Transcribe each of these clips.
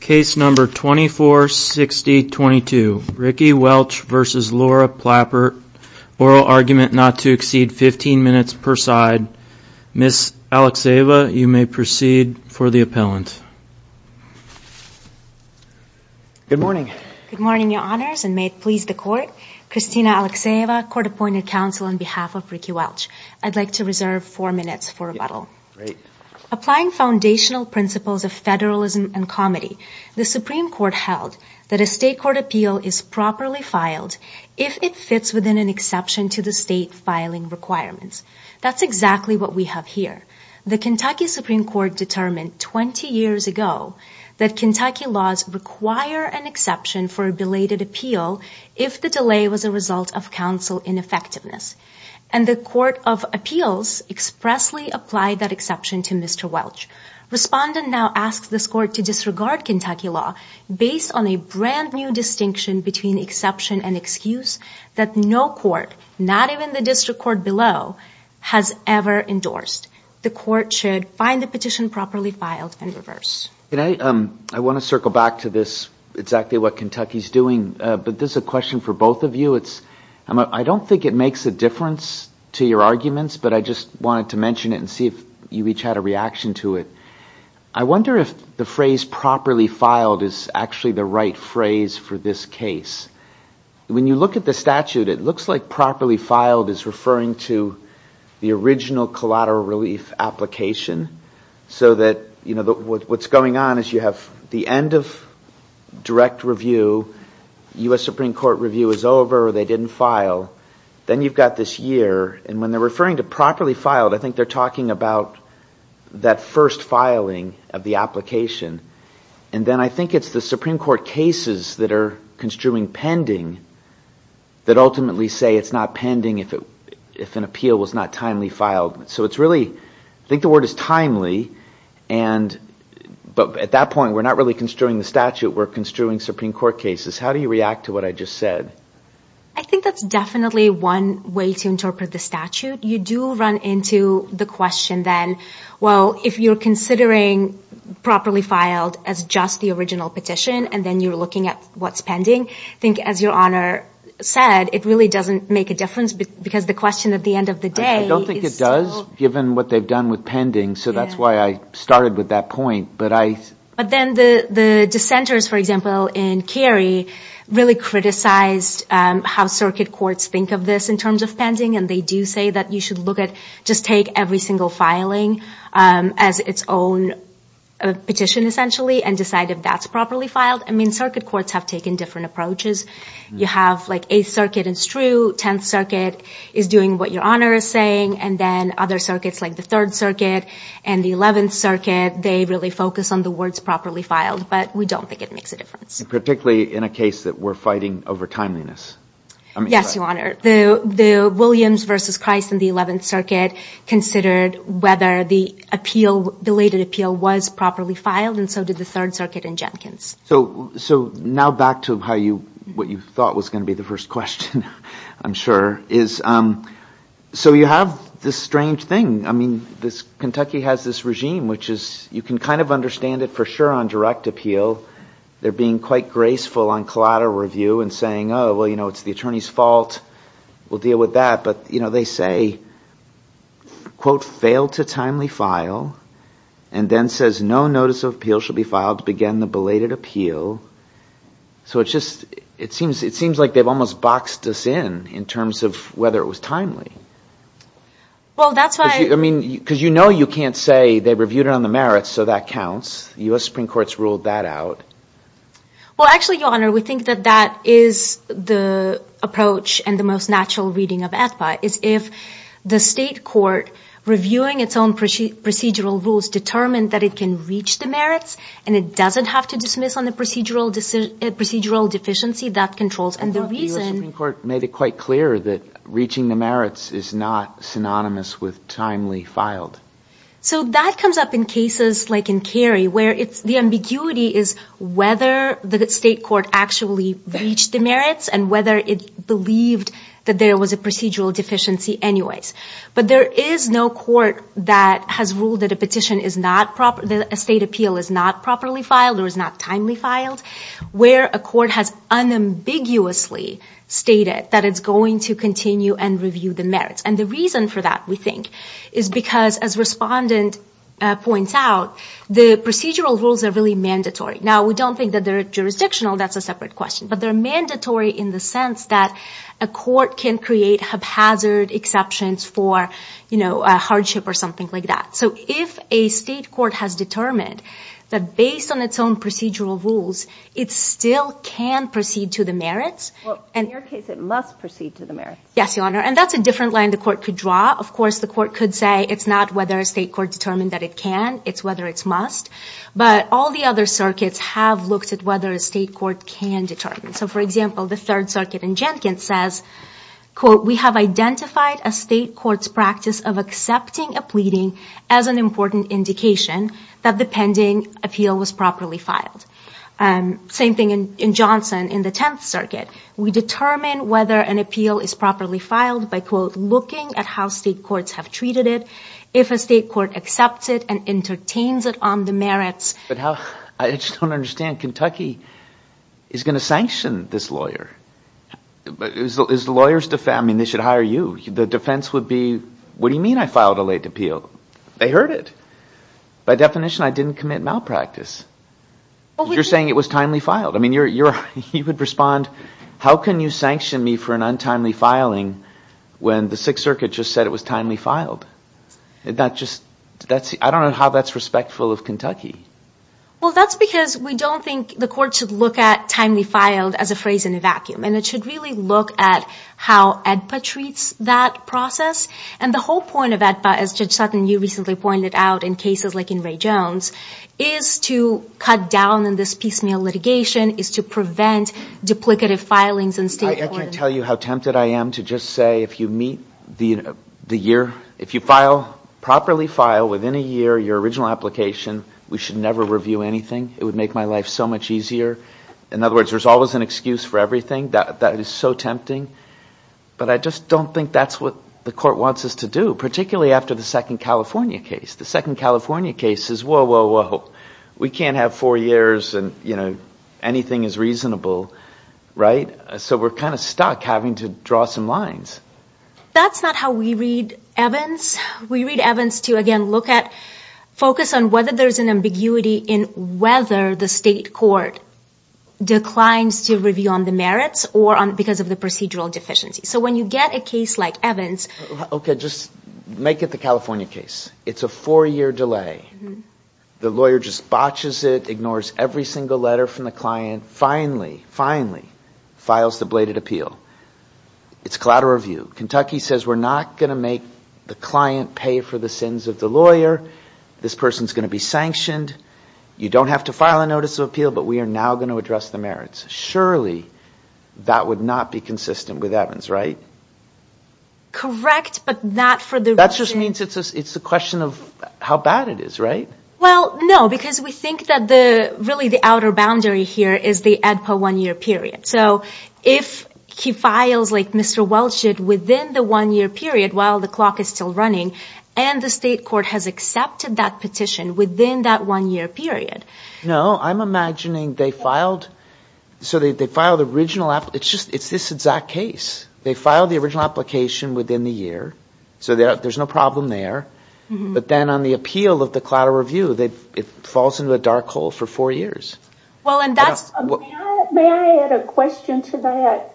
Case number 246022. Ricky Welch v. Laura Plappert. Oral argument not to exceed 15 minutes per side. Ms. Alexeeva, you may proceed for the appellant. Good morning. Good morning, Your Honors, and may it please the Court. Kristina Alexeeva, Court-Appointed Counsel on behalf of Ricky Welch. I'd like to reserve four minutes for rebuttal. Applying foundational principles of federalism and comedy, the Supreme Court held that a state court appeal is properly filed if it fits within an exception to the state filing requirements. That's exactly what we have here. The Kentucky Supreme Court determined 20 years ago that Kentucky laws require an exception for a belated appeal if the delay was a result of counsel ineffectiveness, and the Court of Appeals expressly applied that exception to Mr. Welch. Respondent now asks this Court to disregard Kentucky law based on a brand new distinction between exception and excuse that no court, not even the district court below, has ever endorsed. The Court should find the petition properly filed and reverse. I want to circle back to this, exactly what Kentucky's doing, but this is a question for both of you. I don't think it makes a difference to your arguments, but I just wanted to mention it and see if you each had a reaction to it. I wonder if the phrase properly filed is actually the right phrase for this case. When you look at the statute, it looks like properly filed is referring to the original collateral relief application, so that what's going on is you have the end of direct review, U.S. Supreme Court review is over, or they referring to properly filed, I think they're talking about that first filing of the application, and then I think it's the Supreme Court cases that are construing pending that ultimately say it's not pending if an appeal was not timely filed. So it's really, I think the word is timely, but at that point we're not really construing the statute, we're construing Supreme Court cases. How do you react to what I just said? I think that's definitely one way to interpret the statute. You do run into the question then, well, if you're considering properly filed as just the original petition and then you're looking at what's pending, I think as your Honor said, it really doesn't make a difference because the question at the end of the day... I don't think it does, given what they've done with pending, so that's why I started with that point, but I... But then the dissenters, for example, in Cary, really criticized how Circuit Courts think of this in terms of pending, and they do say that you should look at, just take every single filing as its own petition, essentially, and decide if that's properly filed. I mean, Circuit Courts have taken different approaches. You have like 8th Circuit, it's true, 10th Circuit is doing what your Honor is saying, and then other circuits like the 3rd Circuit and the 11th Circuit, they really focus on the words properly filed, but we don't think it makes a difference. Particularly in a case that we're fighting over timeliness. Yes, your Honor. The Williams versus Christ in the 11th Circuit considered whether the appeal, belated appeal, was properly filed, and so did the 3rd Circuit and Jenkins. So now back to how you... what you thought was going to be the first question, I'm sure, is... so you have this strange thing. I mean, this... Kentucky has this regime which is... you can kind of understand it for sure on direct appeal. They're being quite graceful on collateral review and saying, oh, well, you know, it's the attorney's fault, we'll deal with that, but, you know, they say, quote, failed to timely file, and then says no notice of appeal should be filed to begin the belated appeal. So it's just... it seems... it seems like they've almost boxed us in, in terms of whether it was timely. Well, that's why... I mean, because you know you can't say they reviewed it on the merits, so that counts. The U.S. Supreme Court's ruled that out. Well, actually, Your Honor, we think that that is the approach and the most natural reading of AEDPA, is if the state court, reviewing its own procedural rules, determined that it can reach the merits, and it doesn't have to dismiss on the procedural decision... procedural deficiency that controls, and the reason... The U.S. Supreme Court made it quite clear that reaching the merits is not synonymous with timely filed. So that comes up in cases like in Cary, where it's... the ambiguity is whether the state court actually reached the merits, and whether it believed that there was a procedural deficiency anyways. But there is no court that has ruled that a petition is not proper... that a state appeal is not properly filed, or is not timely filed, where a court has unambiguously stated that it's going to continue and review the merits. And the reason for that, we think, is because, as respondent points out, the procedural rules are really mandatory. Now, we don't think that they're jurisdictional, that's a separate question, but they're mandatory in the sense that a court can create haphazard exceptions for, you know, a hardship or something like that. So if a state court has determined that, based on its own procedural rules, it still can proceed to the merits... Well, in your case, it must proceed to the merits. Yes, Your Honor, and that's a different line the court could draw. Of course, the court could say it's not whether a state court determined that it can, it's whether it's must. But all the other circuits have looked at whether a state court can determine. So, for example, the Third Circuit in Jenkins says, quote, we have identified a state court's practice of accepting a pleading as an important indication that the pending appeal was properly filed. Same thing in Johnson in the Tenth Circuit. We determine whether an appeal is properly filed by, quote, looking at how state courts have treated it. If a state court accepts it and entertains it on the merits... But how... I just don't understand. Kentucky is going to sanction this lawyer. Is the lawyers... I mean, they should hire you. The defense would be, what do you mean I filed a late appeal? They heard it. By definition, I didn't commit malpractice. You're saying it was timely filed. I mean, you're... you would respond, how can you sanction me for an untimely filing when the Sixth Circuit just said it was timely filed? And that just... that's... I don't know how that's respectful of Kentucky. Well, that's because we don't think the court should look at timely filed as a phrase in a vacuum. And it should really look at how AEDPA treats that process. And the whole point of AEDPA, as Judge Sutton, you recently pointed out in cases like in Ray Jones, is to cut down in this piecemeal litigation, is to prevent duplicative filings in state court... I can't tell you how tempted I am to just say if you meet the year... if you file... properly file within a year your original application, we should never review anything. It would make my life so much easier. In other words, there's always an excuse for everything. That is so tempting. But I just don't think that's what the court wants us to do, particularly after the second California case. The second California case is, whoa, whoa, whoa, we can't have four years and, you know, anything is reasonable, right? So we're kind of stuck having to draw some lines. That's not how we read Evans. We read Evans to, again, look at... focus on whether there's an ambiguity in whether the state court declines to review on the merits or on... because of the procedural deficiency. So when you get a case like Evans... Okay, just make it the California case. It's a four-year delay. The lawyer just botches it, ignores every single letter from the client, finally, finally files the bladed appeal. It's collateral review. Kentucky says we're not going to make the client pay for the sins of the lawyer. This person's going to be sanctioned. You don't have to file a notice of appeal, but we are now going to address the merits. Surely that would not be consistent with Evans, right? Correct, but not for the... That just means it's a question of how bad it is, right? Well, no, because we think that the... really the outer boundary here is the ADPA one-year period. So if he files, like Mr. Welch did, within the one-year period while the clock is still running, and the state court has accepted that petition within that one-year period... No, I'm imagining they filed... so they filed the original... it's just... it's this exact case. They filed the original application within the year, so there's no problem there, but then on the appeal of the collateral review, it falls into a cycle for four years. Well, and that's... May I add a question to that?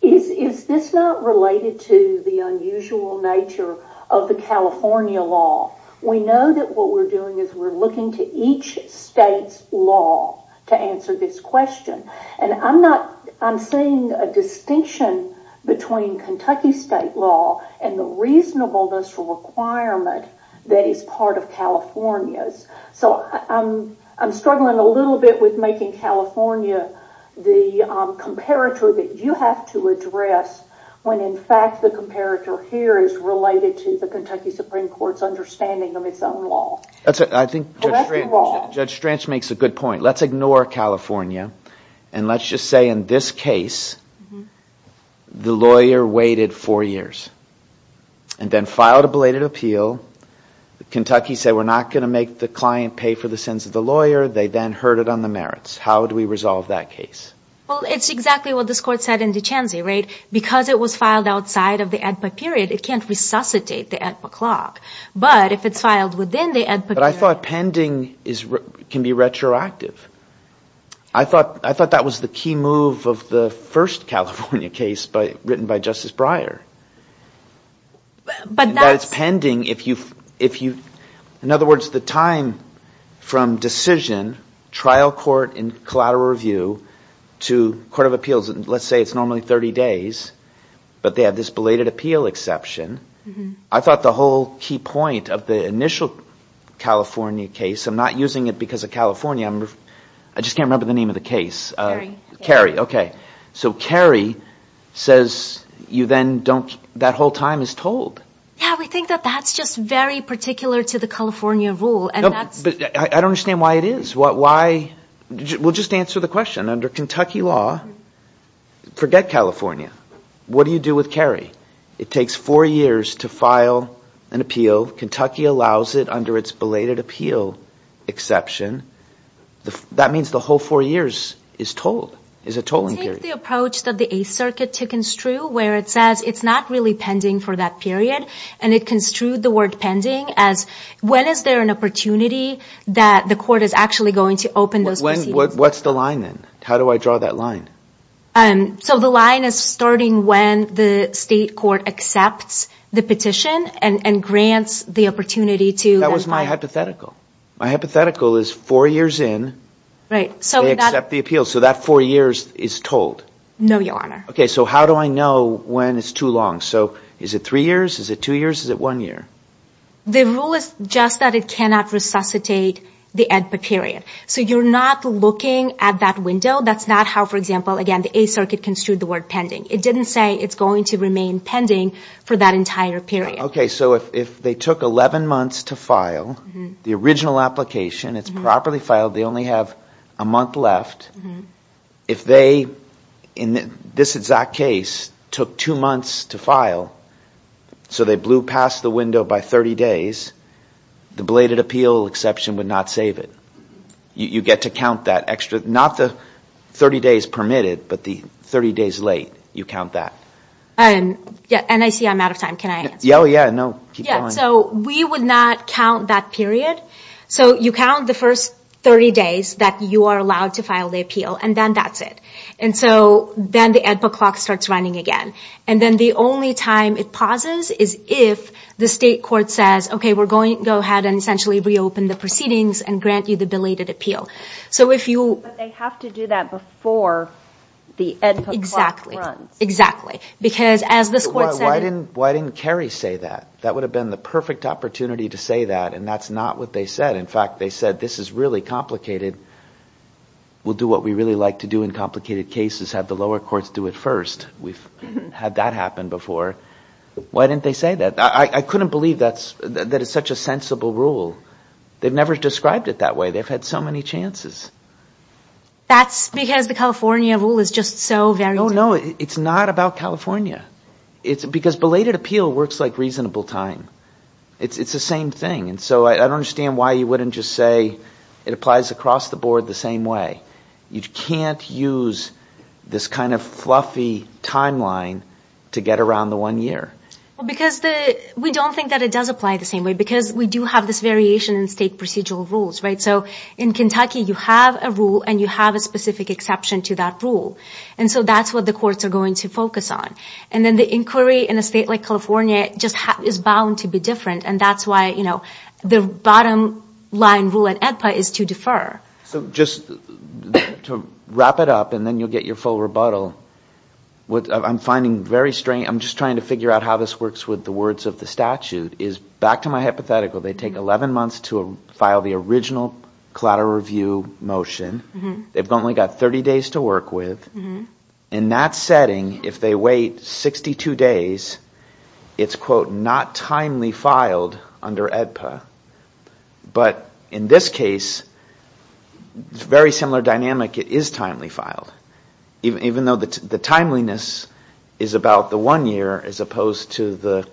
Is this not related to the unusual nature of the California law? We know that what we're doing is we're looking to each state's law to answer this question, and I'm not... I'm seeing a distinction between Kentucky state law and the reasonableness requirement that is part of California's. So I'm struggling a little bit with making California the comparator that you have to address when, in fact, the comparator here is related to the Kentucky Supreme Court's understanding of its own law. That's it. I think Judge Stranch makes a good point. Let's ignore California, and let's just say in this case the lawyer waited four years and then filed a related appeal. Kentucky said we're not going to make the client pay for the sins of the lawyer. They then heard it on the merits. How do we resolve that case? Well, it's exactly what this court said in Duchenne, right? Because it was filed outside of the AEDPA period, it can't resuscitate the AEDPA clock, but if it's filed within the AEDPA... But I thought pending is... can be retroactive. I thought... I thought that was the key move of the first California case, but written by Justice Breyer. But it's pending if you... In other words, the time from decision, trial court and collateral review, to court of appeals, let's say it's normally 30 days, but they have this belated appeal exception. I thought the whole key point of the initial California case, I'm not using it because of California, I just can't remember the name of the case. Cary. Cary, okay. So Cary says you then don't... that whole time is told. Yeah, we think that that's just very particular to the California rule. I don't understand why it is. Why... We'll just answer the question. Under Kentucky law, forget California, what do you do with Cary? It takes four years to file an appeal. Kentucky allows it under its belated appeal exception. That means the whole four years is told, is a tolling period. Take the approach that the Eighth Circuit took and strew, where it says it's not really pending for that period, and it construed the word pending as when is there an opportunity that the court is actually going to open those proceedings. What's the line then? How do I draw that line? So the line is starting when the state court accepts the petition and grants the opportunity to... That was my hypothetical. My hypothetical is four years in, they accept the appeal, so that four years is told. No, Your Honor. Okay, so how do I know when it's too long? So is it three years? Is it two years? Is it one year? The rule is just that it cannot resuscitate the EDPA period. So you're not looking at that window. That's not how, for example, again, the Eighth Circuit construed the word pending. It didn't say it's going to remain pending for that entire period. Okay, so if they took 11 months to file the original application, it's properly filed, they only have a month left. If they, in this exact case, took two months to file, so they blew past the window by 30 days, the bladed appeal exception would not save it. You get to count that extra, not the 30 days permitted, but the 30 days late, you count that. And I see I'm out of time, can I answer? Oh yeah, no, keep going. Yeah, so we would not count that period. So you count the first 30 days that you are allowed to file the appeal, and then that's it. And so then the EDPA clock starts running again. And then the only time it pauses is if the state court says, okay, we're going to go ahead and essentially reopen the proceedings and grant you the bladed appeal. So if you... But they have to do that before the EDPA clock runs. Exactly, exactly. Because as this court said... Why didn't Kerry say that? That would have been the perfect opportunity to say that, and that's not what they said. In fact, they said, this is really complicated. We'll do what we really like to do in complicated cases, have the lower courts do it first. We've had that happen before. Why didn't they say that? I couldn't believe that it's such a sensible rule. They've never described it that way. They've had so many chances. That's because the California rule is just so varied. No, no, it's not about California. Because bladed appeal works like reasonable time. It's the same thing. And so I don't understand why you wouldn't just say it applies across the board the same way. You can't use this kind of fluffy timeline to get around the one year. Well, because we don't think that it does apply the same way, because we do have this variation in state procedural rules, right? So in Kentucky, you have a rule and you have a specific exception to that rule. And so that's what the courts are going to focus on. And then the inquiry in a state like California just is bound to be different, and that's why the bottom line rule at EDPA is to defer. So just to wrap it up, and then you'll get your full rebuttal. What I'm finding very strange, I'm just trying to figure out how this works with the words of the statute, is back to my hypothetical, they take 11 months to file the original collateral review motion. They've only got 30 days to work with. In that setting, if they wait 62 days, it's, quote, not timely filed under EDPA. But in this case, it's a very similar dynamic. It is timely filed, even though the timeliness is about the one year as opposed to the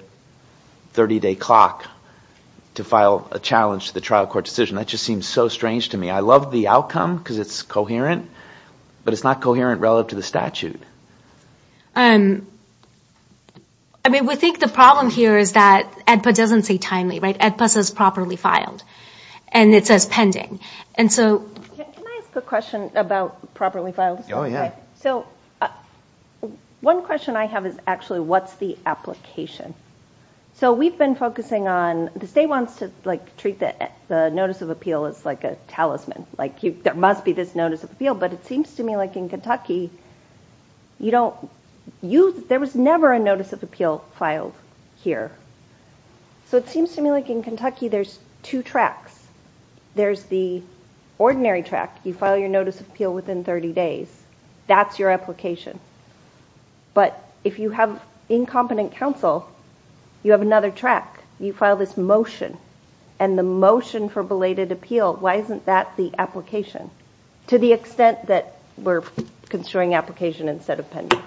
30-day clock to file a challenge to the trial court decision. That just seems so strange to me. I love the outcome, because it's coherent, but it's not coherent relative to the statute. I mean, we think the problem here is that EDPA doesn't say timely, right? EDPA says properly filed. And it says pending. Can I ask a question about properly filed? Oh, yeah. So one question I have is actually, what's the application? So we've been focusing on, the state wants to treat the notice of appeal as like a talisman, like there must be this notice of appeal. But it seems to me like in Kentucky, there was never a notice of appeal filed here. So it seems to me like in Kentucky, there's two tracks. There's the ordinary track. You file your notice of appeal within 30 days. That's your application. But if you have incompetent counsel, you have another track. You file this motion. And the motion for belated appeal, why isn't that the application, to the extent that we're considering application instead of pending?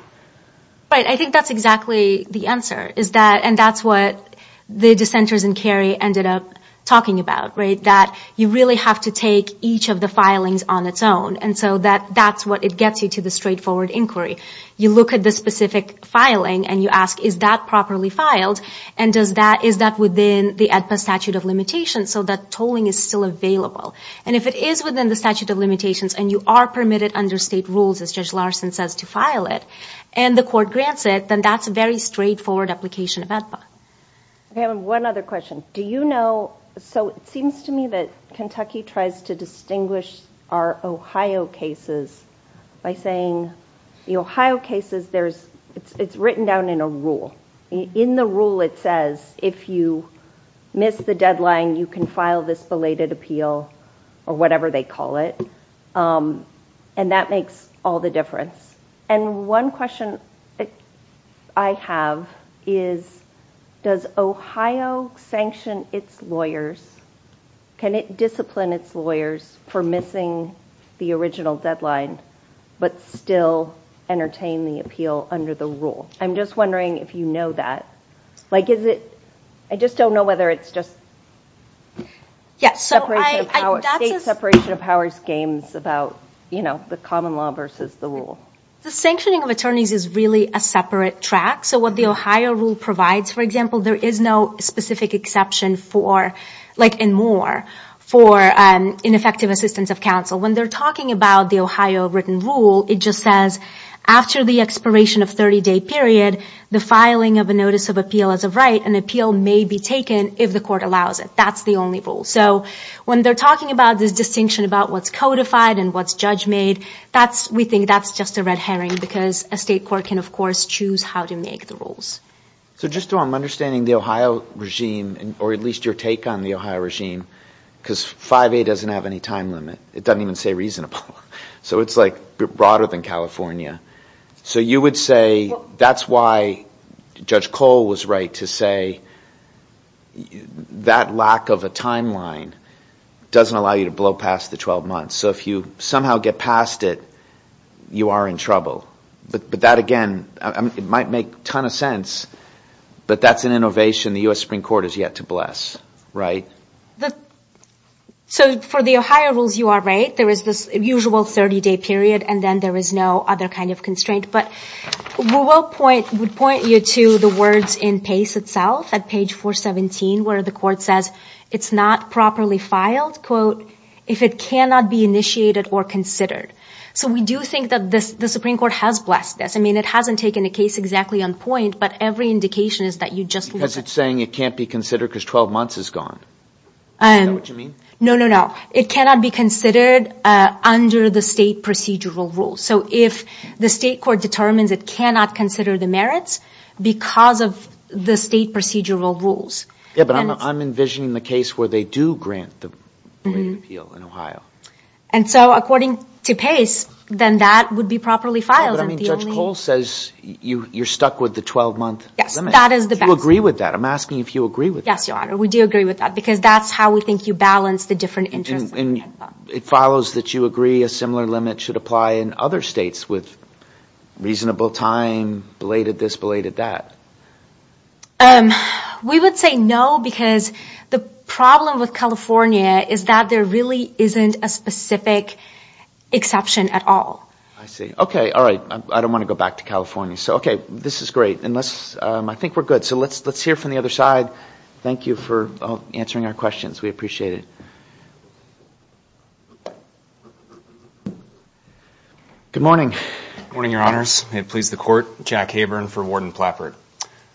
Right. I think that's exactly the answer. And that's what the dissenters in Cary ended up talking about, right? That you really have to take each of the filings on its own. And so that's what it gets you to the straightforward inquiry. You look at the specific filing, and you ask, is that properly filed? And is that within the AEDPA statute of limitations so that tolling is still available? And if it is within the statute of limitations, and you are permitted under state rules, as Judge Larson says, to file it, and the court grants it, then that's a very straightforward application of AEDPA. I have one other question. So it seems to me that Kentucky tries to distinguish our Ohio cases by saying, the Ohio cases, it's written down in a rule. In the rule, it says, if you miss the deadline, you can file this belated appeal, or whatever they call it. And that makes all the difference. And one question I have is, does Ohio sanction its lawyers? Can it discipline its lawyers for missing the original deadline, but still entertain the appeal under the rule? I'm just wondering if you know that. I just don't know whether it's just state separation of powers games about the common law versus the rule. The sanctioning of attorneys is really a separate track. So what the Ohio rule provides, for example, there is no specific exception for, and more, for ineffective assistance of counsel. When they're talking about the Ohio written rule, it just says, after the expiration of 30-day period, the filing of a notice of appeal as of right, an appeal may be taken if the court allows it. That's the only rule. So when they're talking about this distinction about what's codified and what's judge-made, we think that's just a red herring, because a state court can, of course, choose how to make the rules. So just so I'm understanding the Ohio regime, or at least your take on the Ohio regime, because 5A doesn't have any time limit. It doesn't even say reasonable. So it's like broader than California. So you would say that's why Judge Cole was right to say that lack of a timeline doesn't allow you to blow past the 12 months. So if you somehow get past it, you are in trouble. But that, again, it might make a ton of sense, but that's an innovation the U.S. Supreme Court has yet to bless, right? So for the Ohio rules, you are right. There is this usual 30-day period, and then there is no other kind of constraint. But we would point you to the words in PACE itself, at page 417, where the court says it's not properly filed, quote, if it cannot be initiated or considered. So we do think that the Supreme Court has blessed this. I mean, it hasn't taken a case exactly on point, but every indication is that you just... Because it's saying it can't be considered because 12 months is gone. Is that what you mean? No, no, no. It cannot be considered under the state procedural rules. So if the state court determines it cannot consider the merits because of the state procedural rules. Yeah, but I'm envisioning the case where they do grant the right of appeal in Ohio. And so according to PACE, then that would be properly filed. But I mean, Judge Cole says you're stuck with the 12-month limit. Yes, that is the best. Do you agree with that? I'm asking if you agree with that. Yes, Your Honor, we do agree with that because that's how we think you balance the different interests. And it follows that you agree a similar limit should apply in other states with reasonable time, belated this, belated that. We would say no, because the problem with California is that there really isn't a specific exception at all. I see. Okay. All right. I don't want to go back to California. So, okay, this is great. And let's... I think we're good. So let's hear from the other side. Thank you for answering our questions. We appreciate it. Good morning. Good morning, Your Honors. May it please the Court. Jack Haburn for Warden Plappert.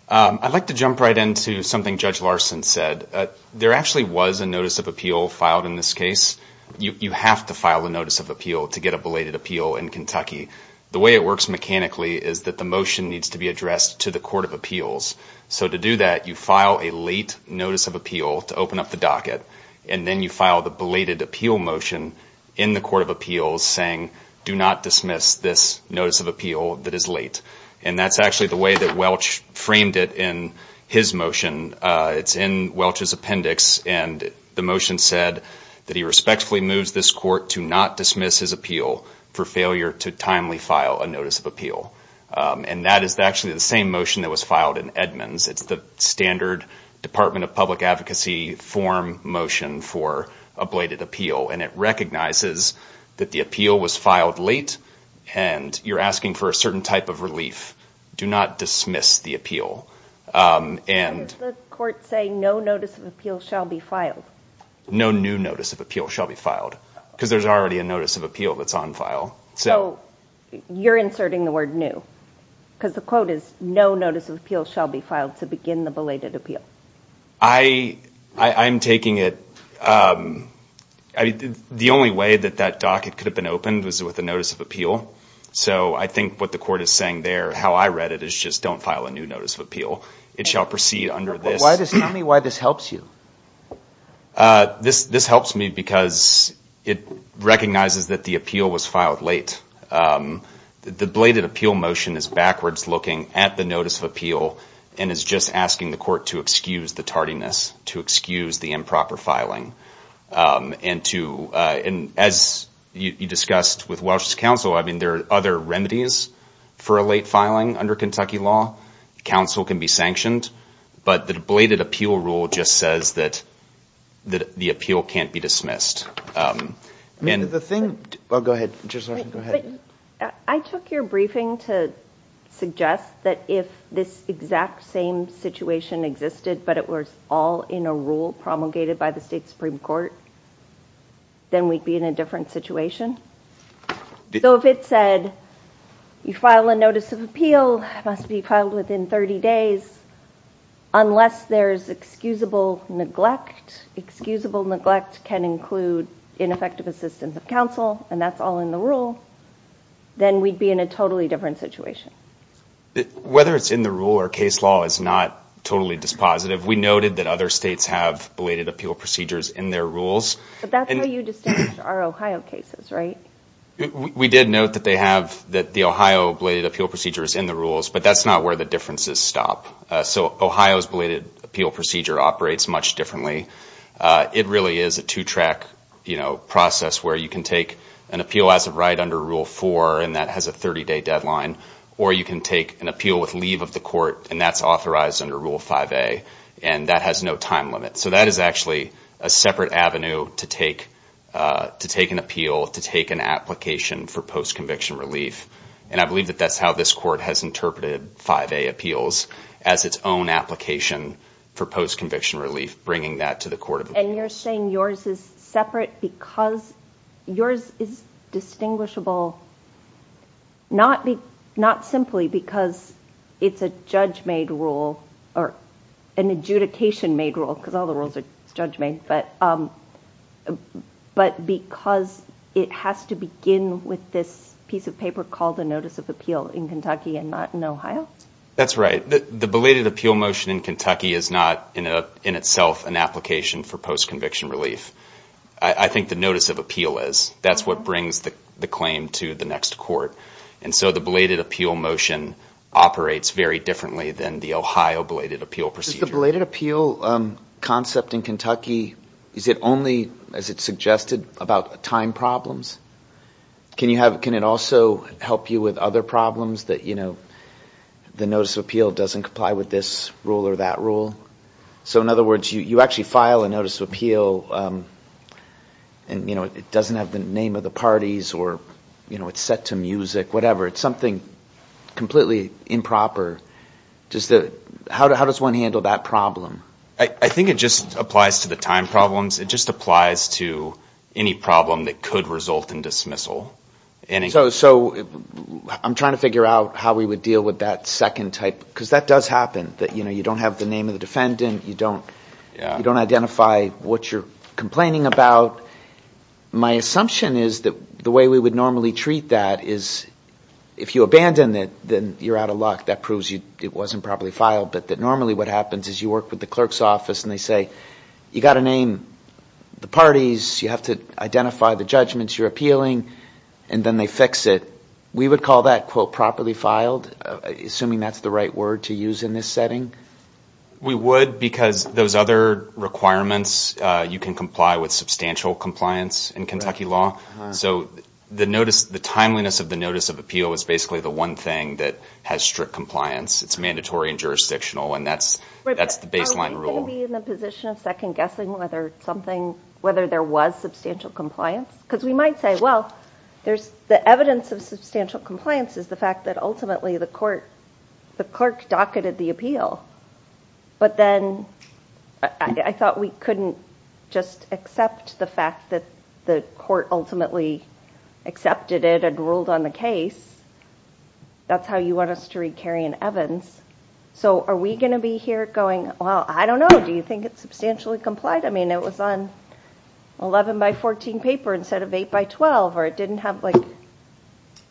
I'd like to jump right into something Judge Larson said. There actually was a notice of appeal filed in this case. You have to file a notice of appeal to get a belated appeal in Kentucky. The way it works mechanically is that the motion needs to be addressed to the Court of Appeals. So to do that, you file a late notice of appeal to open up the docket. And then you file the belated appeal motion in the Court of Appeals saying, do not dismiss this notice of appeal that is late. And that's actually the way that Welch framed it in his motion. It's in Welch's appendix, and the motion said that he respectfully moves this court to not dismiss his appeal for failure to timely file a notice of appeal. And that is actually the same motion that was filed in Edmunds. It's the standard Department of Public Advocacy form motion for a belated appeal. And it recognizes that the appeal was filed late, and you're asking for a certain type of relief. Do not dismiss the appeal. Does the court say no notice of appeal shall be filed? No new notice of appeal shall be filed. Because there's already a notice of appeal that's on file. So you're inserting the word new. Because the quote is, no notice of appeal shall be filed to begin the belated appeal. I'm taking it, the only way that that docket could have been opened was with a notice of appeal. So I think what the court is saying there, how I read it, is just don't file a new notice of appeal. It shall proceed under this. Tell me why this helps you. This helps me because it recognizes that the appeal was filed late. The belated appeal motion is backwards looking at the notice of appeal. And is just asking the court to excuse the tardiness, to excuse the improper filing. And as you discussed with Welch's counsel, there are other remedies for a late filing under Kentucky law. Counsel can be sanctioned. But the belated appeal rule just says that the appeal can't be dismissed. I took your briefing to suggest that if this exact same situation existed, but it was all in a rule promulgated by the state supreme court, then we'd be in a different situation. So if it said, you file a notice of appeal, it must be filed within 30 days, unless there's excusable neglect. Excusable neglect can include ineffective assistance of counsel. And that's all in the rule. Then we'd be in a totally different situation. Whether it's in the rule or case law is not totally dispositive. We noted that other states have belated appeal procedures in their rules. But that's how you distinguish our Ohio cases, right? We did note that they have the Ohio belated appeal procedures in the rules. But that's not where the differences stop. So Ohio's belated appeal procedure operates much differently. It really is a two-track process where you can take an appeal as of right under Rule 4, and that has a 30-day deadline. Or you can take an appeal with leave of the court, and that's authorized under Rule 5A. And that has no time limit. So that is actually a separate avenue to take an appeal, to take an application for post-conviction relief. And I believe that that's how this court has interpreted 5A appeals, as its own application for post-conviction relief, bringing that to the court of appeal. And you're saying yours is separate because yours is distinguishable not simply because it's a judge-made rule, or an adjudication-made rule, because all the rules are judge-made, but because it has to begin with this piece of paper called a notice of appeal in Kentucky and not in Ohio? That's right. The belated appeal motion in Kentucky is not in itself an application for post-conviction relief. I think the notice of appeal is. That's what brings the claim to the next court. And so the belated appeal motion operates very differently than the Ohio belated appeal procedure. The belated appeal concept in Kentucky, is it only, as it's suggested, about time problems? Can it also help you with other problems that the notice of appeal doesn't comply with this rule or that rule? So in other words, you actually file a notice of appeal, and it doesn't have the name of the parties, or it's set to music, whatever. It's something completely improper. How does one handle that problem? I think it just applies to the time problems. It just applies to any problem that could result in dismissal. So I'm trying to figure out how we would deal with that second type, because that does happen. You don't have the name of the defendant. You don't identify what you're complaining about. My assumption is that the way we would normally treat that is if you abandon it, then you're out of luck. Because it wasn't properly filed. But normally what happens is you work with the clerk's office, and they say, you've got to name the parties, you have to identify the judgments you're appealing, and then they fix it. We would call that, quote, properly filed, assuming that's the right word to use in this setting. We would, because those other requirements, you can comply with substantial compliance in Kentucky law. So the timeliness of the notice of appeal is basically the one thing that has strict compliance. It's mandatory and jurisdictional, and that's the baseline rule. Are we going to be in the position of second guessing whether there was substantial compliance? Because we might say, well, the evidence of substantial compliance is the fact that ultimately the clerk docketed the appeal. But then I thought we couldn't just accept the fact that the court ultimately accepted it and ruled on the case. That's how you want us to read Kerry and Evans. So are we going to be here going, well, I don't know. Do you think it's substantially complied? I mean, it was on 11 by 14 paper instead of 8 by 12, or it didn't have, like,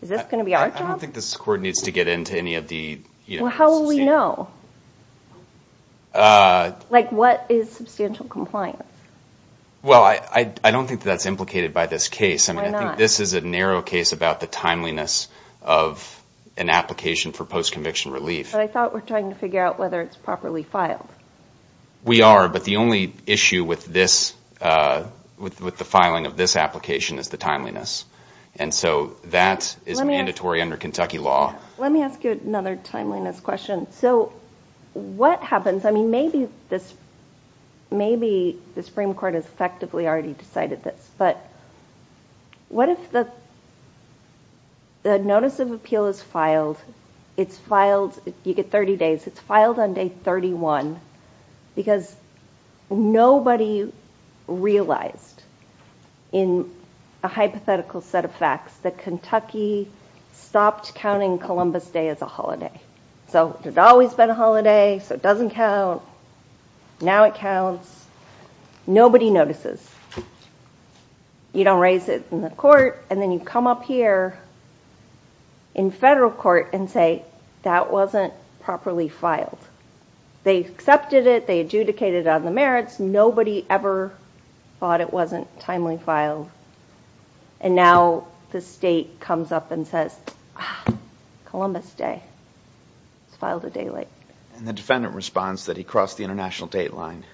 is this going to be our job? I don't think this court needs to get into any of the... Well, how will we know? Like, what is substantial compliance? Well, I don't think that's implicated by this case. I mean, I think this is a narrow case about the timeliness of an application for post-conviction relief. But I thought we're trying to figure out whether it's properly filed. We are, but the only issue with the filing of this application is the timeliness. And so that is mandatory under Kentucky law. Let me ask you another timeliness question. So what happens, I mean, maybe the Supreme Court has effectively already decided this, but what if the notice of appeal is filed, it's filed, you get 30 days, it's filed on day 31, because nobody realized in a hypothetical set of facts that Kentucky stopped counting Columbus Day as a holiday. It had always been a holiday, so it doesn't count. Now it counts. Nobody notices. You don't raise it in the court, and then you come up here in federal court and say, that wasn't properly filed. They accepted it, they adjudicated on the merits, nobody ever thought it wasn't timely filed. And now the state comes up and says, ah, Columbus Day, it's filed a day late. And the defendant responds that he crossed the international date line.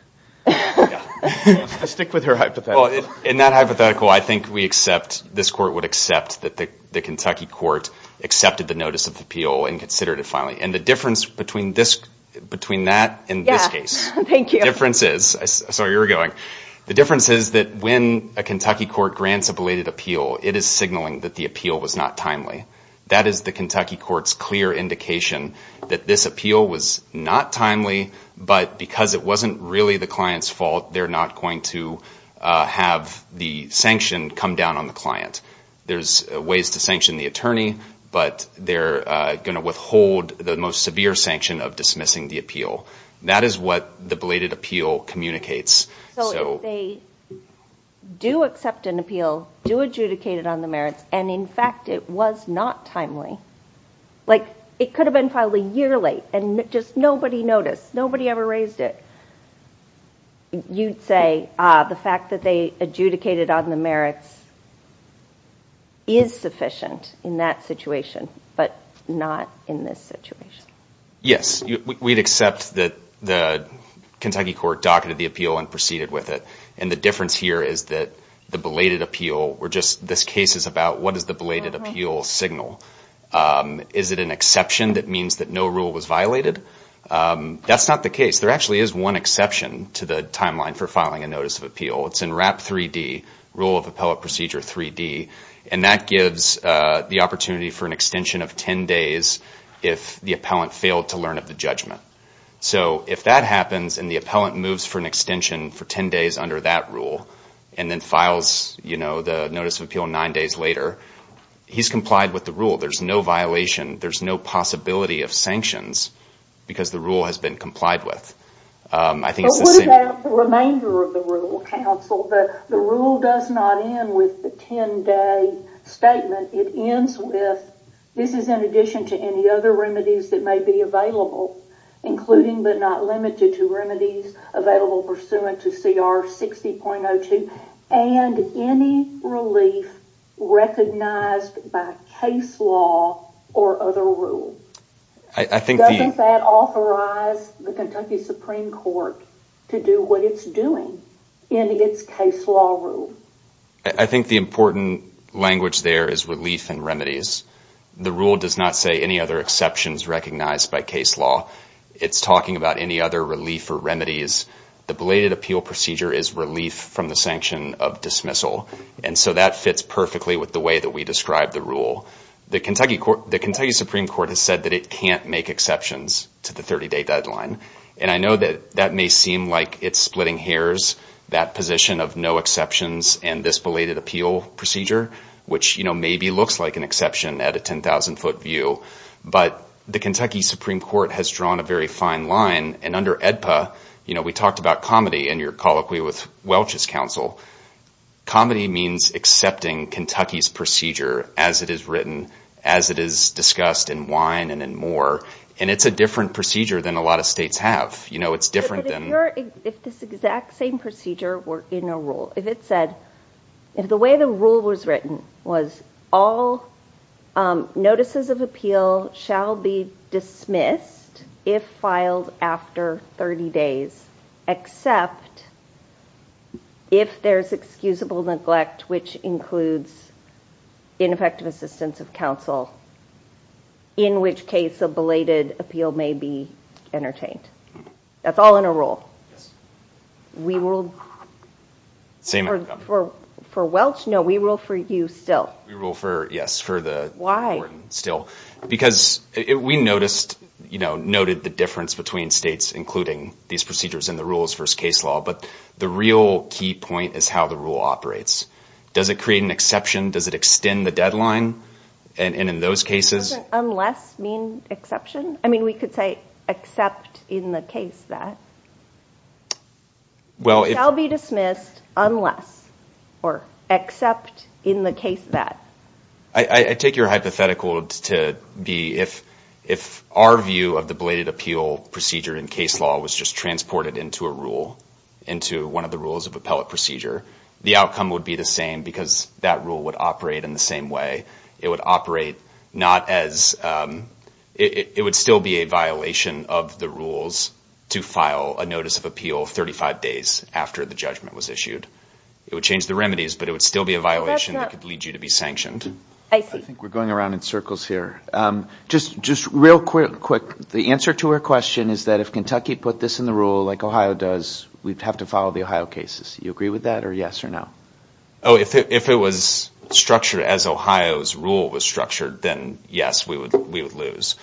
I stick with her hypothetical. In that hypothetical, I think we accept, this court would accept that the Kentucky court accepted the notice of appeal and considered it finally. And the difference between that and this case. Thank you. The difference is, sorry, you were going. The difference is that when a Kentucky court grants a belated appeal, it is signaling that the appeal was not timely. That is the Kentucky court's clear indication that this appeal was not timely, but because it wasn't really the client's fault, they're not going to have the sanction come down on the client. There's ways to sanction the attorney, but they're going to withhold the most severe sanction of dismissing the appeal. That is what the belated appeal communicates. So if they do accept an appeal, do adjudicate it on the merits, and in fact it was not timely, like it could have been filed a year late, and just nobody noticed, nobody ever raised it. You'd say, ah, the fact that they adjudicated on the merits is sufficient in that situation, but not in this situation. Yes. We'd accept that the Kentucky court docketed the appeal and proceeded with it, and the difference here is that the belated appeal, this case is about what is the belated appeal signal. Is it an exception that means that no rule was violated? That's not the case. There actually is one exception to the timeline for filing a notice of appeal. It's in WRAP 3D, Rule of Appellate Procedure 3D, and that gives the opportunity for an extension of 10 days if the appellant failed to learn of the judgment. So if that happens and the appellant moves for an extension for 10 days under that rule, and then files the notice of appeal 9 days later, he's complied with the rule. There's no violation, there's no possibility of sanctions because the rule has been complied with. But what about the remainder of the rule, counsel? The rule does not end with the 10-day statement. It ends with, this is in addition to any other remedies that may be available, including but not limited to remedies available pursuant to CR 60.02, and any relief recognized by case law or other rule. Doesn't that authorize the Kentucky Supreme Court to do what it's doing in its case law rule? I think the important language there is relief and remedies. The rule does not say any other exceptions recognized by case law. It's talking about any other relief or remedies. The belated appeal procedure is relief from the sanction of dismissal. And so that fits perfectly with the way that we describe the rule. The Kentucky Supreme Court has said that it can't make exceptions to the 30-day deadline. And I know that that may seem like it's splitting hairs, that position of no exceptions and this belated appeal procedure, which maybe looks like an exception at a 10,000-foot view. But the Kentucky Supreme Court has drawn a very fine line. And under AEDPA, we talked about comedy, and you're colloquial with Welch's counsel. Comedy means accepting Kentucky's procedure as it is written, as it is discussed in wine and in more. And it's a different procedure than a lot of states have. It's different than... But if this exact same procedure were in a rule, if it said, if the way the rule was written was all notices of appeal shall be dismissed if filed after 30 days, except if there's excusable neglect, which includes ineffective assistance of counsel, in which case a belated appeal may be entertained. That's all in a rule. We rule... Same outcome. For Welch? No, we rule for you still. We rule for, yes, for the... Why? Because we noticed, you know, noted the difference between states including these procedures in the rules versus case law. But the real key point is how the rule operates. Does it create an exception? Does it extend the deadline? And in those cases... Doesn't unless mean exception? I mean, we could say except in the case that... Well, if... Shall be dismissed unless or except in the case that. I take your hypothetical to be if our view of the belated appeal procedure in case law was just transported into a rule, into one of the rules of appellate procedure, the outcome would be the same because that rule would operate in the same way. It would operate not as... It would still be a violation of the rules to file a notice of appeal 35 days after the judgment was issued. It would change the remedies, but it would still be a violation that could lead you to be sanctioned. I think we're going around in circles here. Just real quick, the answer to our question is that if Kentucky put this in the rule like Ohio does, we'd have to follow the Ohio cases. Do you agree with that or yes or no? Oh, if it was structured as Ohio's rule was structured, then yes, we would lose.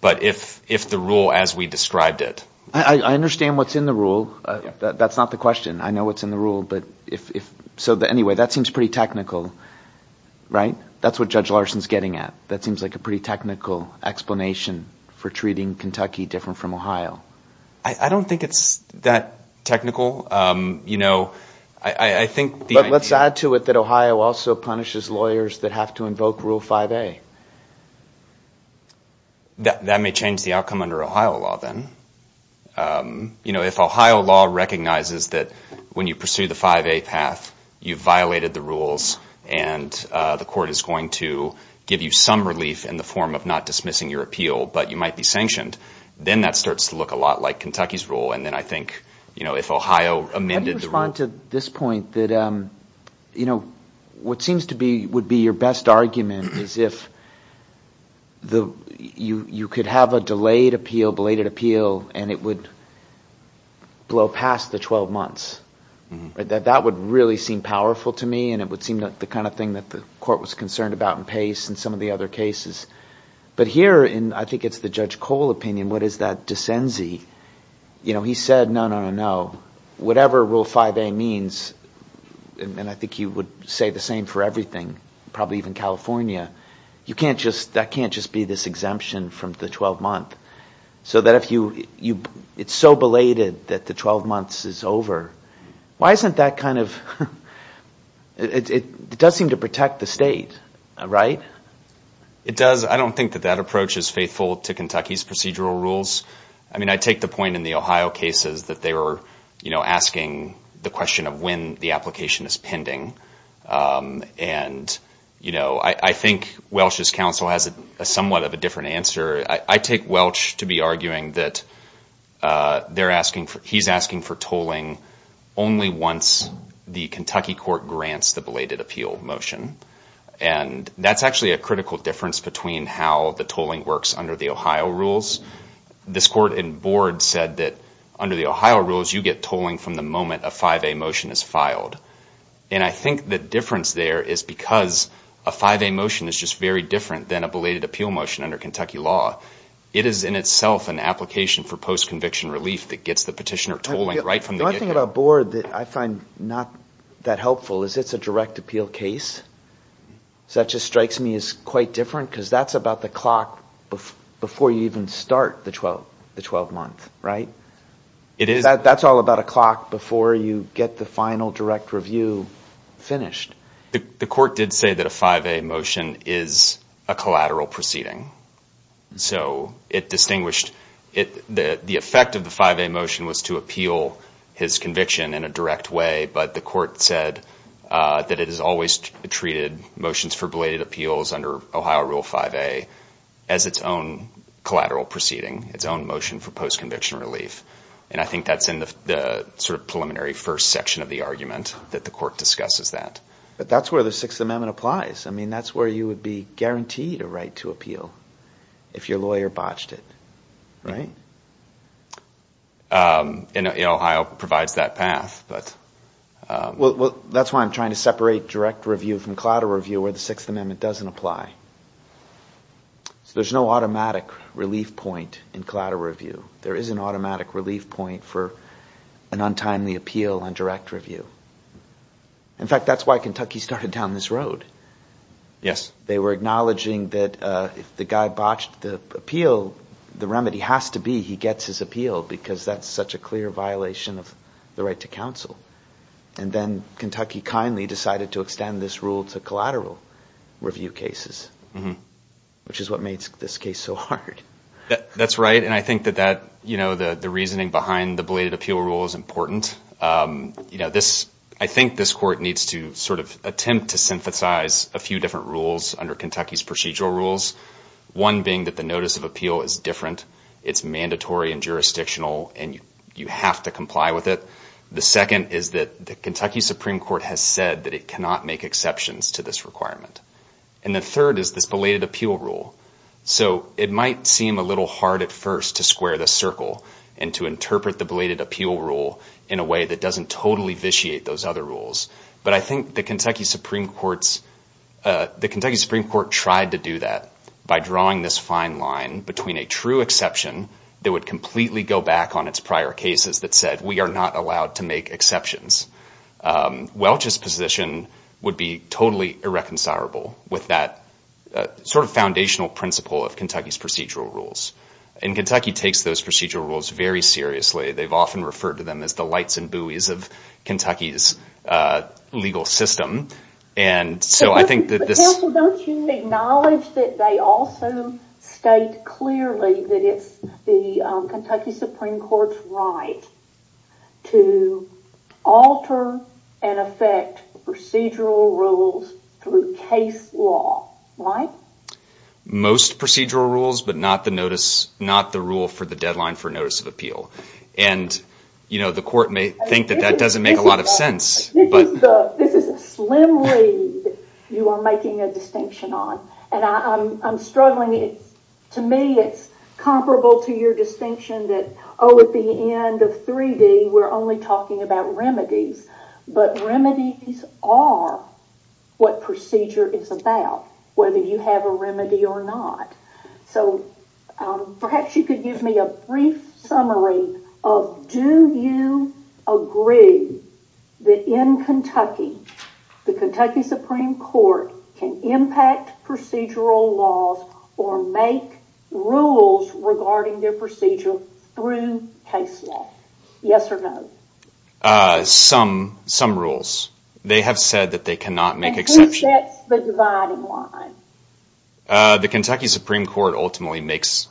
But if the rule as we described it... I understand what's in the rule. That's not the question. I know what's in the rule, but if... So anyway, that seems pretty technical, right? That's what Judge Larson's getting at. That seems like a pretty technical explanation for treating Kentucky different from Ohio. I don't think it's that technical. You know, I think... But let's add to it that Ohio also punishes lawyers that have to invoke Rule 5A. That may change the outcome under Ohio law, then. You know, if Ohio law recognizes that when you pursue the 5A path, you violated the rules, and the court is going to give you some relief in the form of not dismissing your appeal, but you might be sanctioned, then that starts to look a lot like Kentucky's rule. And then I think, you know, if Ohio amended the rule... How do you respond to this point that, you know, what seems to be... would be your best argument is if you could have a delayed appeal, belated appeal, and it would blow past the 12 months. That would really seem powerful to me, and it would seem like the kind of thing that the court was concerned about in Pace and some of the other cases. But here, in, I think it's the Judge Cole opinion, what is that decency? You know, he said, no, no, no, no. Whatever Rule 5A means, and I think he would say the same for everything, probably even California. That can't just be this exemption from the 12-month. So that if you... It's so belated that the 12 months is over. Why isn't that kind of... It does seem to protect the state, right? It does. I don't think that that approach is faithful to Kentucky's procedural rules. I mean, I take the point in the Ohio cases that they were, you know, asking the question of when the application is pending. And, you know, I think Welch's counsel has somewhat of a different answer. I take Welch to be arguing that he's asking for tolling only once the Kentucky court grants the belated appeal motion. And that's actually a critical difference between how the tolling works under the Ohio rules. This court in board said that under the Ohio rules, you get tolling from the moment a 5A motion is filed. And I think the difference there is because a 5A motion is just very different than a belated appeal motion under Kentucky law. It is in itself an application for post-conviction relief that gets the petitioner tolling right from the get-go. One thing about board that I find not that helpful is it's a direct appeal case. So that just strikes me as quite different because that's about the clock before you even start the 12 months, right? It is. That's all about a clock before you get the final direct review finished. The court did say that a 5A motion is a collateral proceeding. So it distinguished. The effect of the 5A motion was to appeal his conviction in a direct way. But the court said that it has always treated motions for belated appeals under Ohio Rule 5A as its own collateral proceeding, its own motion for post-conviction relief. And I think that's in the sort of preliminary first section of the argument that the court discusses that. But that's where the Sixth Amendment applies. I mean, that's where you would be guaranteed a right to appeal if your lawyer botched it, right? And Ohio provides that path, but... Well, that's why I'm trying to separate direct review from collateral review where the Sixth Amendment doesn't apply. So there's no automatic relief point in collateral review. There's no automatic relief point for an untimely appeal on direct review. In fact, that's why Kentucky started down this road. They were acknowledging that if the guy botched the appeal, the remedy has to be he gets his appeal because that's such a clear violation of the right to counsel. And then Kentucky kindly decided to extend this rule to collateral review cases, which is what made this case so hard. That's right. The reasoning behind the belated appeal rule is important. I think this court needs to sort of attempt to synthesize a few different rules under Kentucky's procedural rules. One being that the notice of appeal is different. It's mandatory and jurisdictional and you have to comply with it. The second is that the Kentucky Supreme Court has said that it cannot make exceptions to this requirement. And the third is this belated appeal rule. So it might seem a little hard at first to square the circle and interpret the belated appeal rule in a way that doesn't totally vitiate those other rules. But I think the Kentucky Supreme Court tried to do that by drawing this fine line between a true exception that would completely go back on its prior cases that said we are not allowed to make exceptions. Welch's position would be totally irreconcilable with that sort of foundational principle of Kentucky's procedural rules. And Kentucky takes those procedural rules very seriously. They've often referred to them as the lights and buoys of Kentucky's legal system. And so I think that this... But Counsel, don't you acknowledge that they also state clearly that it's the Kentucky Supreme Court's right to alter and affect procedural rules through case law. Right? Most procedural rules but not the rule that you are making a distinction on. And the court may think that that doesn't make a lot of sense. This is a slim lead you are making a distinction on. And I'm struggling. To me it's comparable to your distinction that oh at the end of 3D we're only talking about remedies. But remedies are what procedure is about. Whether you have a remedy or not. So perhaps you could give me a brief summary of do you agree that in Kentucky the Kentucky Supreme Court can impact procedural laws or make rules regarding their procedure through case law. Yes or no? Some rules. They have said that they cannot make exceptions. And who sets the dividing line? The Kentucky Supreme Court ultimately makes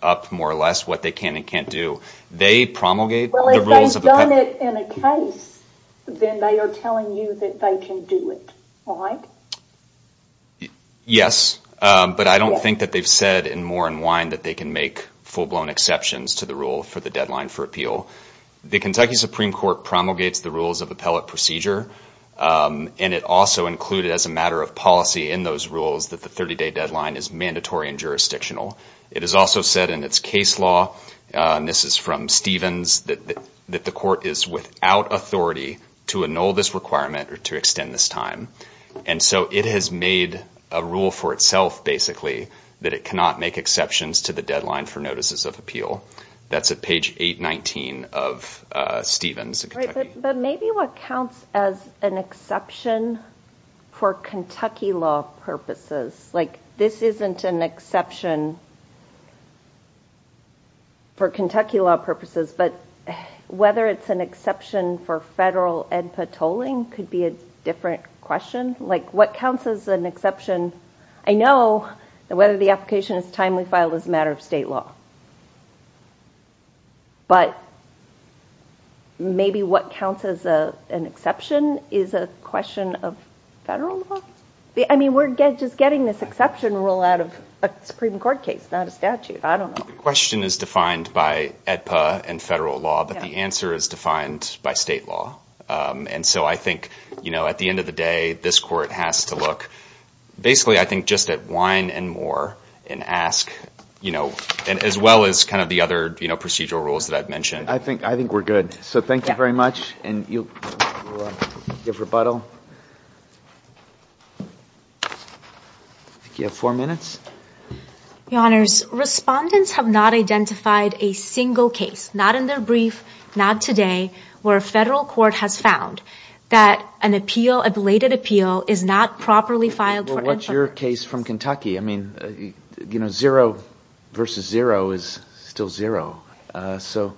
up more or less what they can and can't do. They promulgate the rules. Well if they've done it in a case then they are telling you that they can do it. Yes. But I don't think that they've said in more than one that they can make full blown exceptions to the rule for the deadline for appeal. The Kentucky Supreme Court promulgates the rules of appellate procedure. And it also included as a matter of policy in those rules that the 30 day deadline is mandatory and jurisdictional. It has also said in its case law and this is from Stevens that the court is without authority to annul this requirement or to extend this time. And so it has made a rule for itself basically that it cannot make exceptions to the deadline for notices of appeal. That's at page 819 of Stevens. But maybe what counts as an exception for Kentucky law purposes like this isn't an exception for Kentucky law purposes but whether it's an exception for federal and patrolling could be a different question. Like what counts as an exception. I know whether the application is timely filed as a matter of state law. But maybe what counts as an exception is a question of federal law. I mean we're just getting this exception rule out of a Supreme Court case not a statute. I don't know. The question is defined by EDPA and federal law but the answer is defined by state law. And so I think at the end of the day this court has to look basically I think just at wine and more and ask as well as kind of the other procedural rules that I've mentioned. I think we're good. So thank you very much. And you'll give rebuttal. You have four minutes. Your Honors. Respondents have not identified a single case not in their brief not today where a federal court has found that an appeal a belated appeal is not properly filed for EDPA. Well what's your case from Kentucky? I mean you know zero versus zero is still zero. So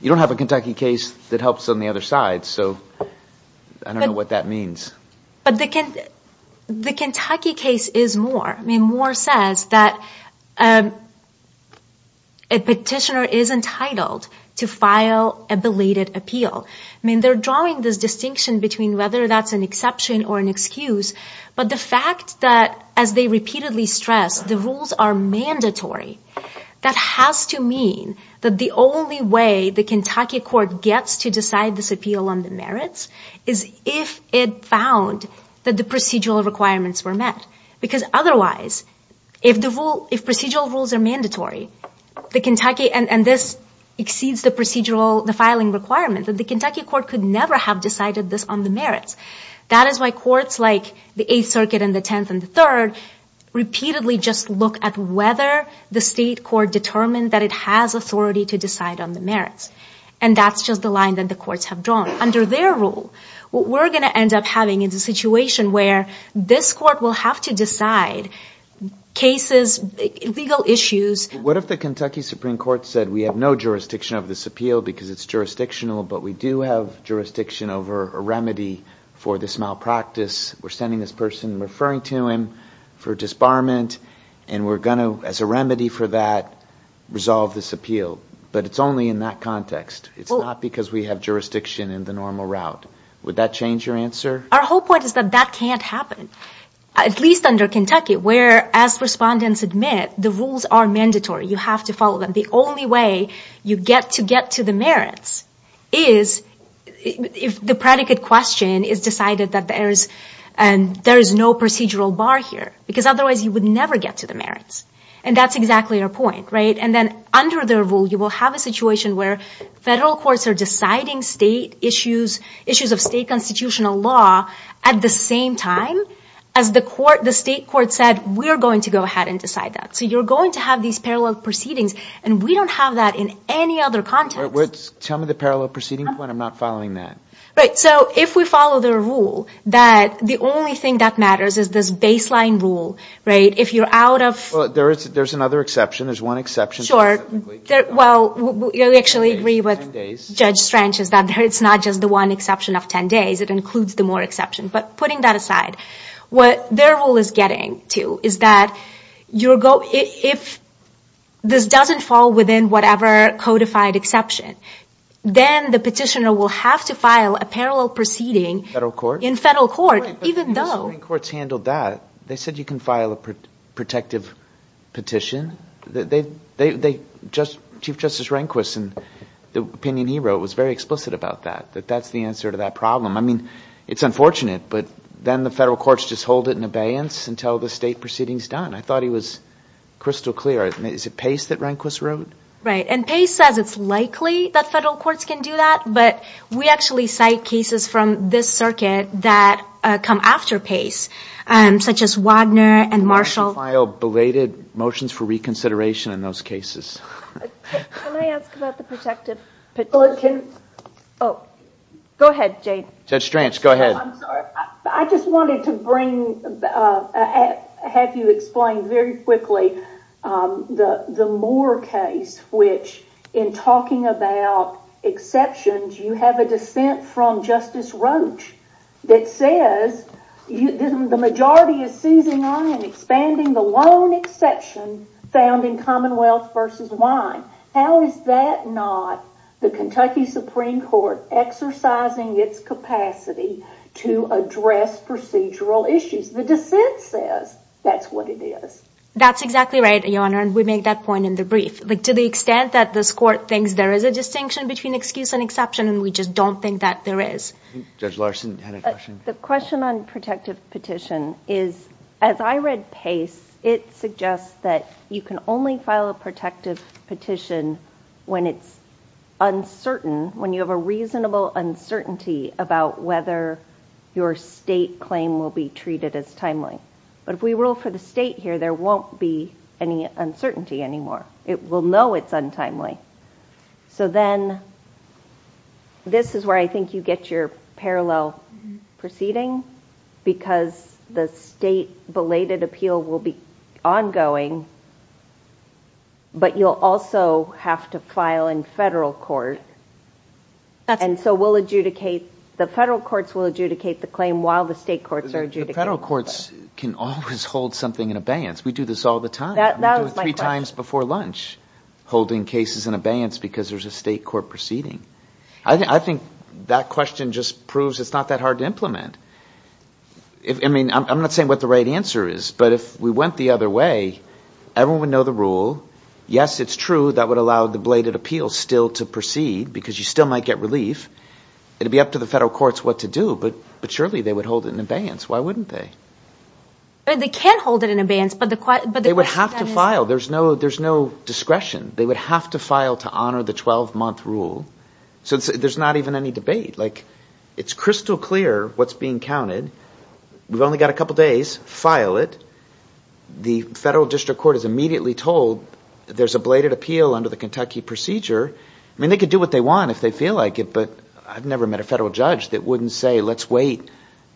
you don't have a Kentucky case that helps on the other side. I don't know what that means. But the Kentucky case is Moore. I mean Moore says that a petitioner is entitled to file a belated appeal. I mean they're drawing this distinction between whether that's an exception or an excuse but the fact that as they repeatedly stress the rules are mandatory that has to mean that the only way the Kentucky court gets to decide this appeal on the merits is if it found that the procedural requirements were met because otherwise if the rule if procedural rules are mandatory the Kentucky and this exceeds the procedural the filing requirement that the Kentucky court could never have decided this on the merits. That is why courts like the Eighth Circuit and the Tenth and the Third repeatedly just look at whether the state court determined that it has authority to decide on the merits and that's just the line that the courts have drawn. Under their rule what we're going to end up having is a situation where this court will have to decide cases legal issues What if the Kentucky Supreme Court said we have no jurisdiction over this appeal because it's jurisdictional but we do have jurisdiction over a remedy for this malpractice we're sending this person referring to him for disbarment and we're going to as a remedy for that resolve this appeal but it's only in that context it's not because we have jurisdiction in the normal route would that change your answer? Our whole point is that that can't happen at least under Kentucky where as respondents admit the rules are mandatory you have to follow them the only way you get to get to the merits is if the predicate question is decided that there is no procedural bar here because otherwise you would never get to the merits and that's exactly our point and then under their rule you will have a situation where federal courts are deciding state issues issues of state constitutional law at the same time as the court the state court said we're going to go ahead and decide that so you're going to have these parallel proceedings and we don't have that in any other context wait tell me the parallel proceeding point I'm not following that right so if we follow their rule that the only thing that matters is this baseline rule right if you're out of well there's there's another exception there's one exception sure well we actually agree with Judge Strange that it's not just the one exception of ten days it includes the more exceptions but putting that aside what their rule is getting to is that if this doesn't fall within whatever codified exception then the petitioner will have to file a parallel proceeding in federal court even though but the Missouri courts handled that they said you can file a protective petition they just Chief Justice Rehnquist in the opinion he wrote was very explicit about that that that's the answer to that problem I mean it's unfortunate but then the federal courts just hold it in abeyance until the state proceeding is done I thought he was crystal clear is it Pace that Rehnquist wrote right and Pace says it's likely that federal courts can do that but we actually cite cases from this circuit that come after Pace such as Wagner and Marshall file belated motions for reconsideration in those cases can I ask about the protective petition oh go ahead Jay Judge Stranch go ahead I'm sorry I just wanted to bring have you explain very quickly the Moore case which in talking about exceptions you have a case Justice Roach that says the majority is seizing on and expanding the lone exception found in Commonwealth versus Wine how is that not the Kentucky Supreme Court exercising its capacity to address procedural issues the dissent says that's what it is that's exactly right your honor and we make that point in the brief to the extent that this court thinks there is a distinction between excuse and exception and we just don't think that there is Judge Larson had a question the question on protective petition is as I read pace it suggests that you can only file a protective petition when it's uncertain when you have a reasonable uncertainty about whether your state claim will be treated as timely but if we rule for the state here there won't be any uncertainty anymore it will know it's untimely so then this is where I think you get your parallel proceeding because the state belated appeal will be ongoing but you'll also have to file in federal court and so we'll adjudicate the federal courts will adjudicate the claim while the federal courts can always hold something in abeyance we do this all the time three times before lunch holding cases in abeyance because there's a state court proceeding I think that question just proves it's not that hard to implement I'm not saying what the right answer is but if we went the other way everyone would know honor the rule yes it's true that would allow the bladed appeal still to proceed because you still might get relief it would be up to the federal courts what to do but surely they would hold it in abeyance why wouldn't they they can't hold it in abeyance they would have to wait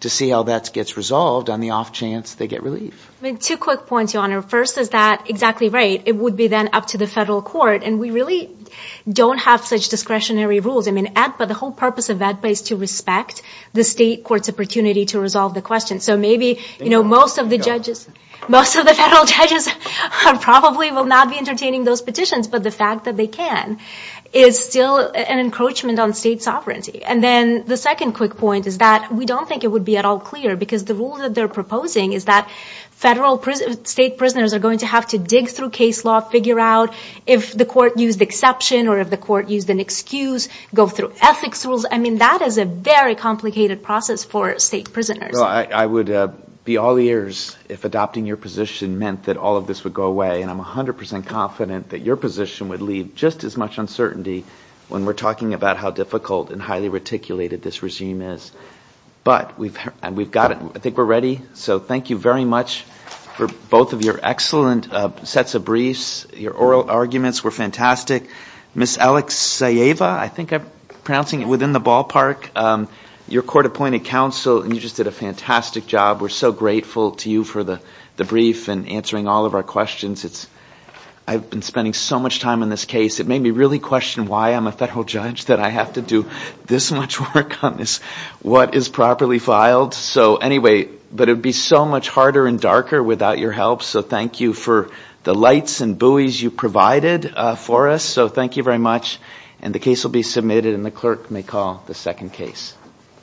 to see how that gets resolved on the off chance they get relief two quick points first is that exactly right it would be then up to the federal court we really don't have such discretionary the whole purpose of that is to respect the state court's opportunity to resolve the not be entertaining those petitions but the fact that they can is still an encroachment on state sovereignty the second quick point is that we don't think it would be at all clear the rule they are proposing is that federal state prisoners are going to have to dig through case law figure out if the court used an excuse go through ethics rules that is a very complicated process for state prisoners I would be all ears if adopting your position meant that all of this would go away and I'm 100% confident that your position would leave just as much uncertainty when we are talking about how difficult and highly reticulated this regime is but I think we are ready so thank you very much for both of your excellent sets of questions the brief and answering all of our questions I've been spending so much time on this case it made me really question why I'm a federal judge that I have to do this much work on this what is properly filed so anyway but it would be so much harder and darker without your help so thank you for the lights and thank you very much.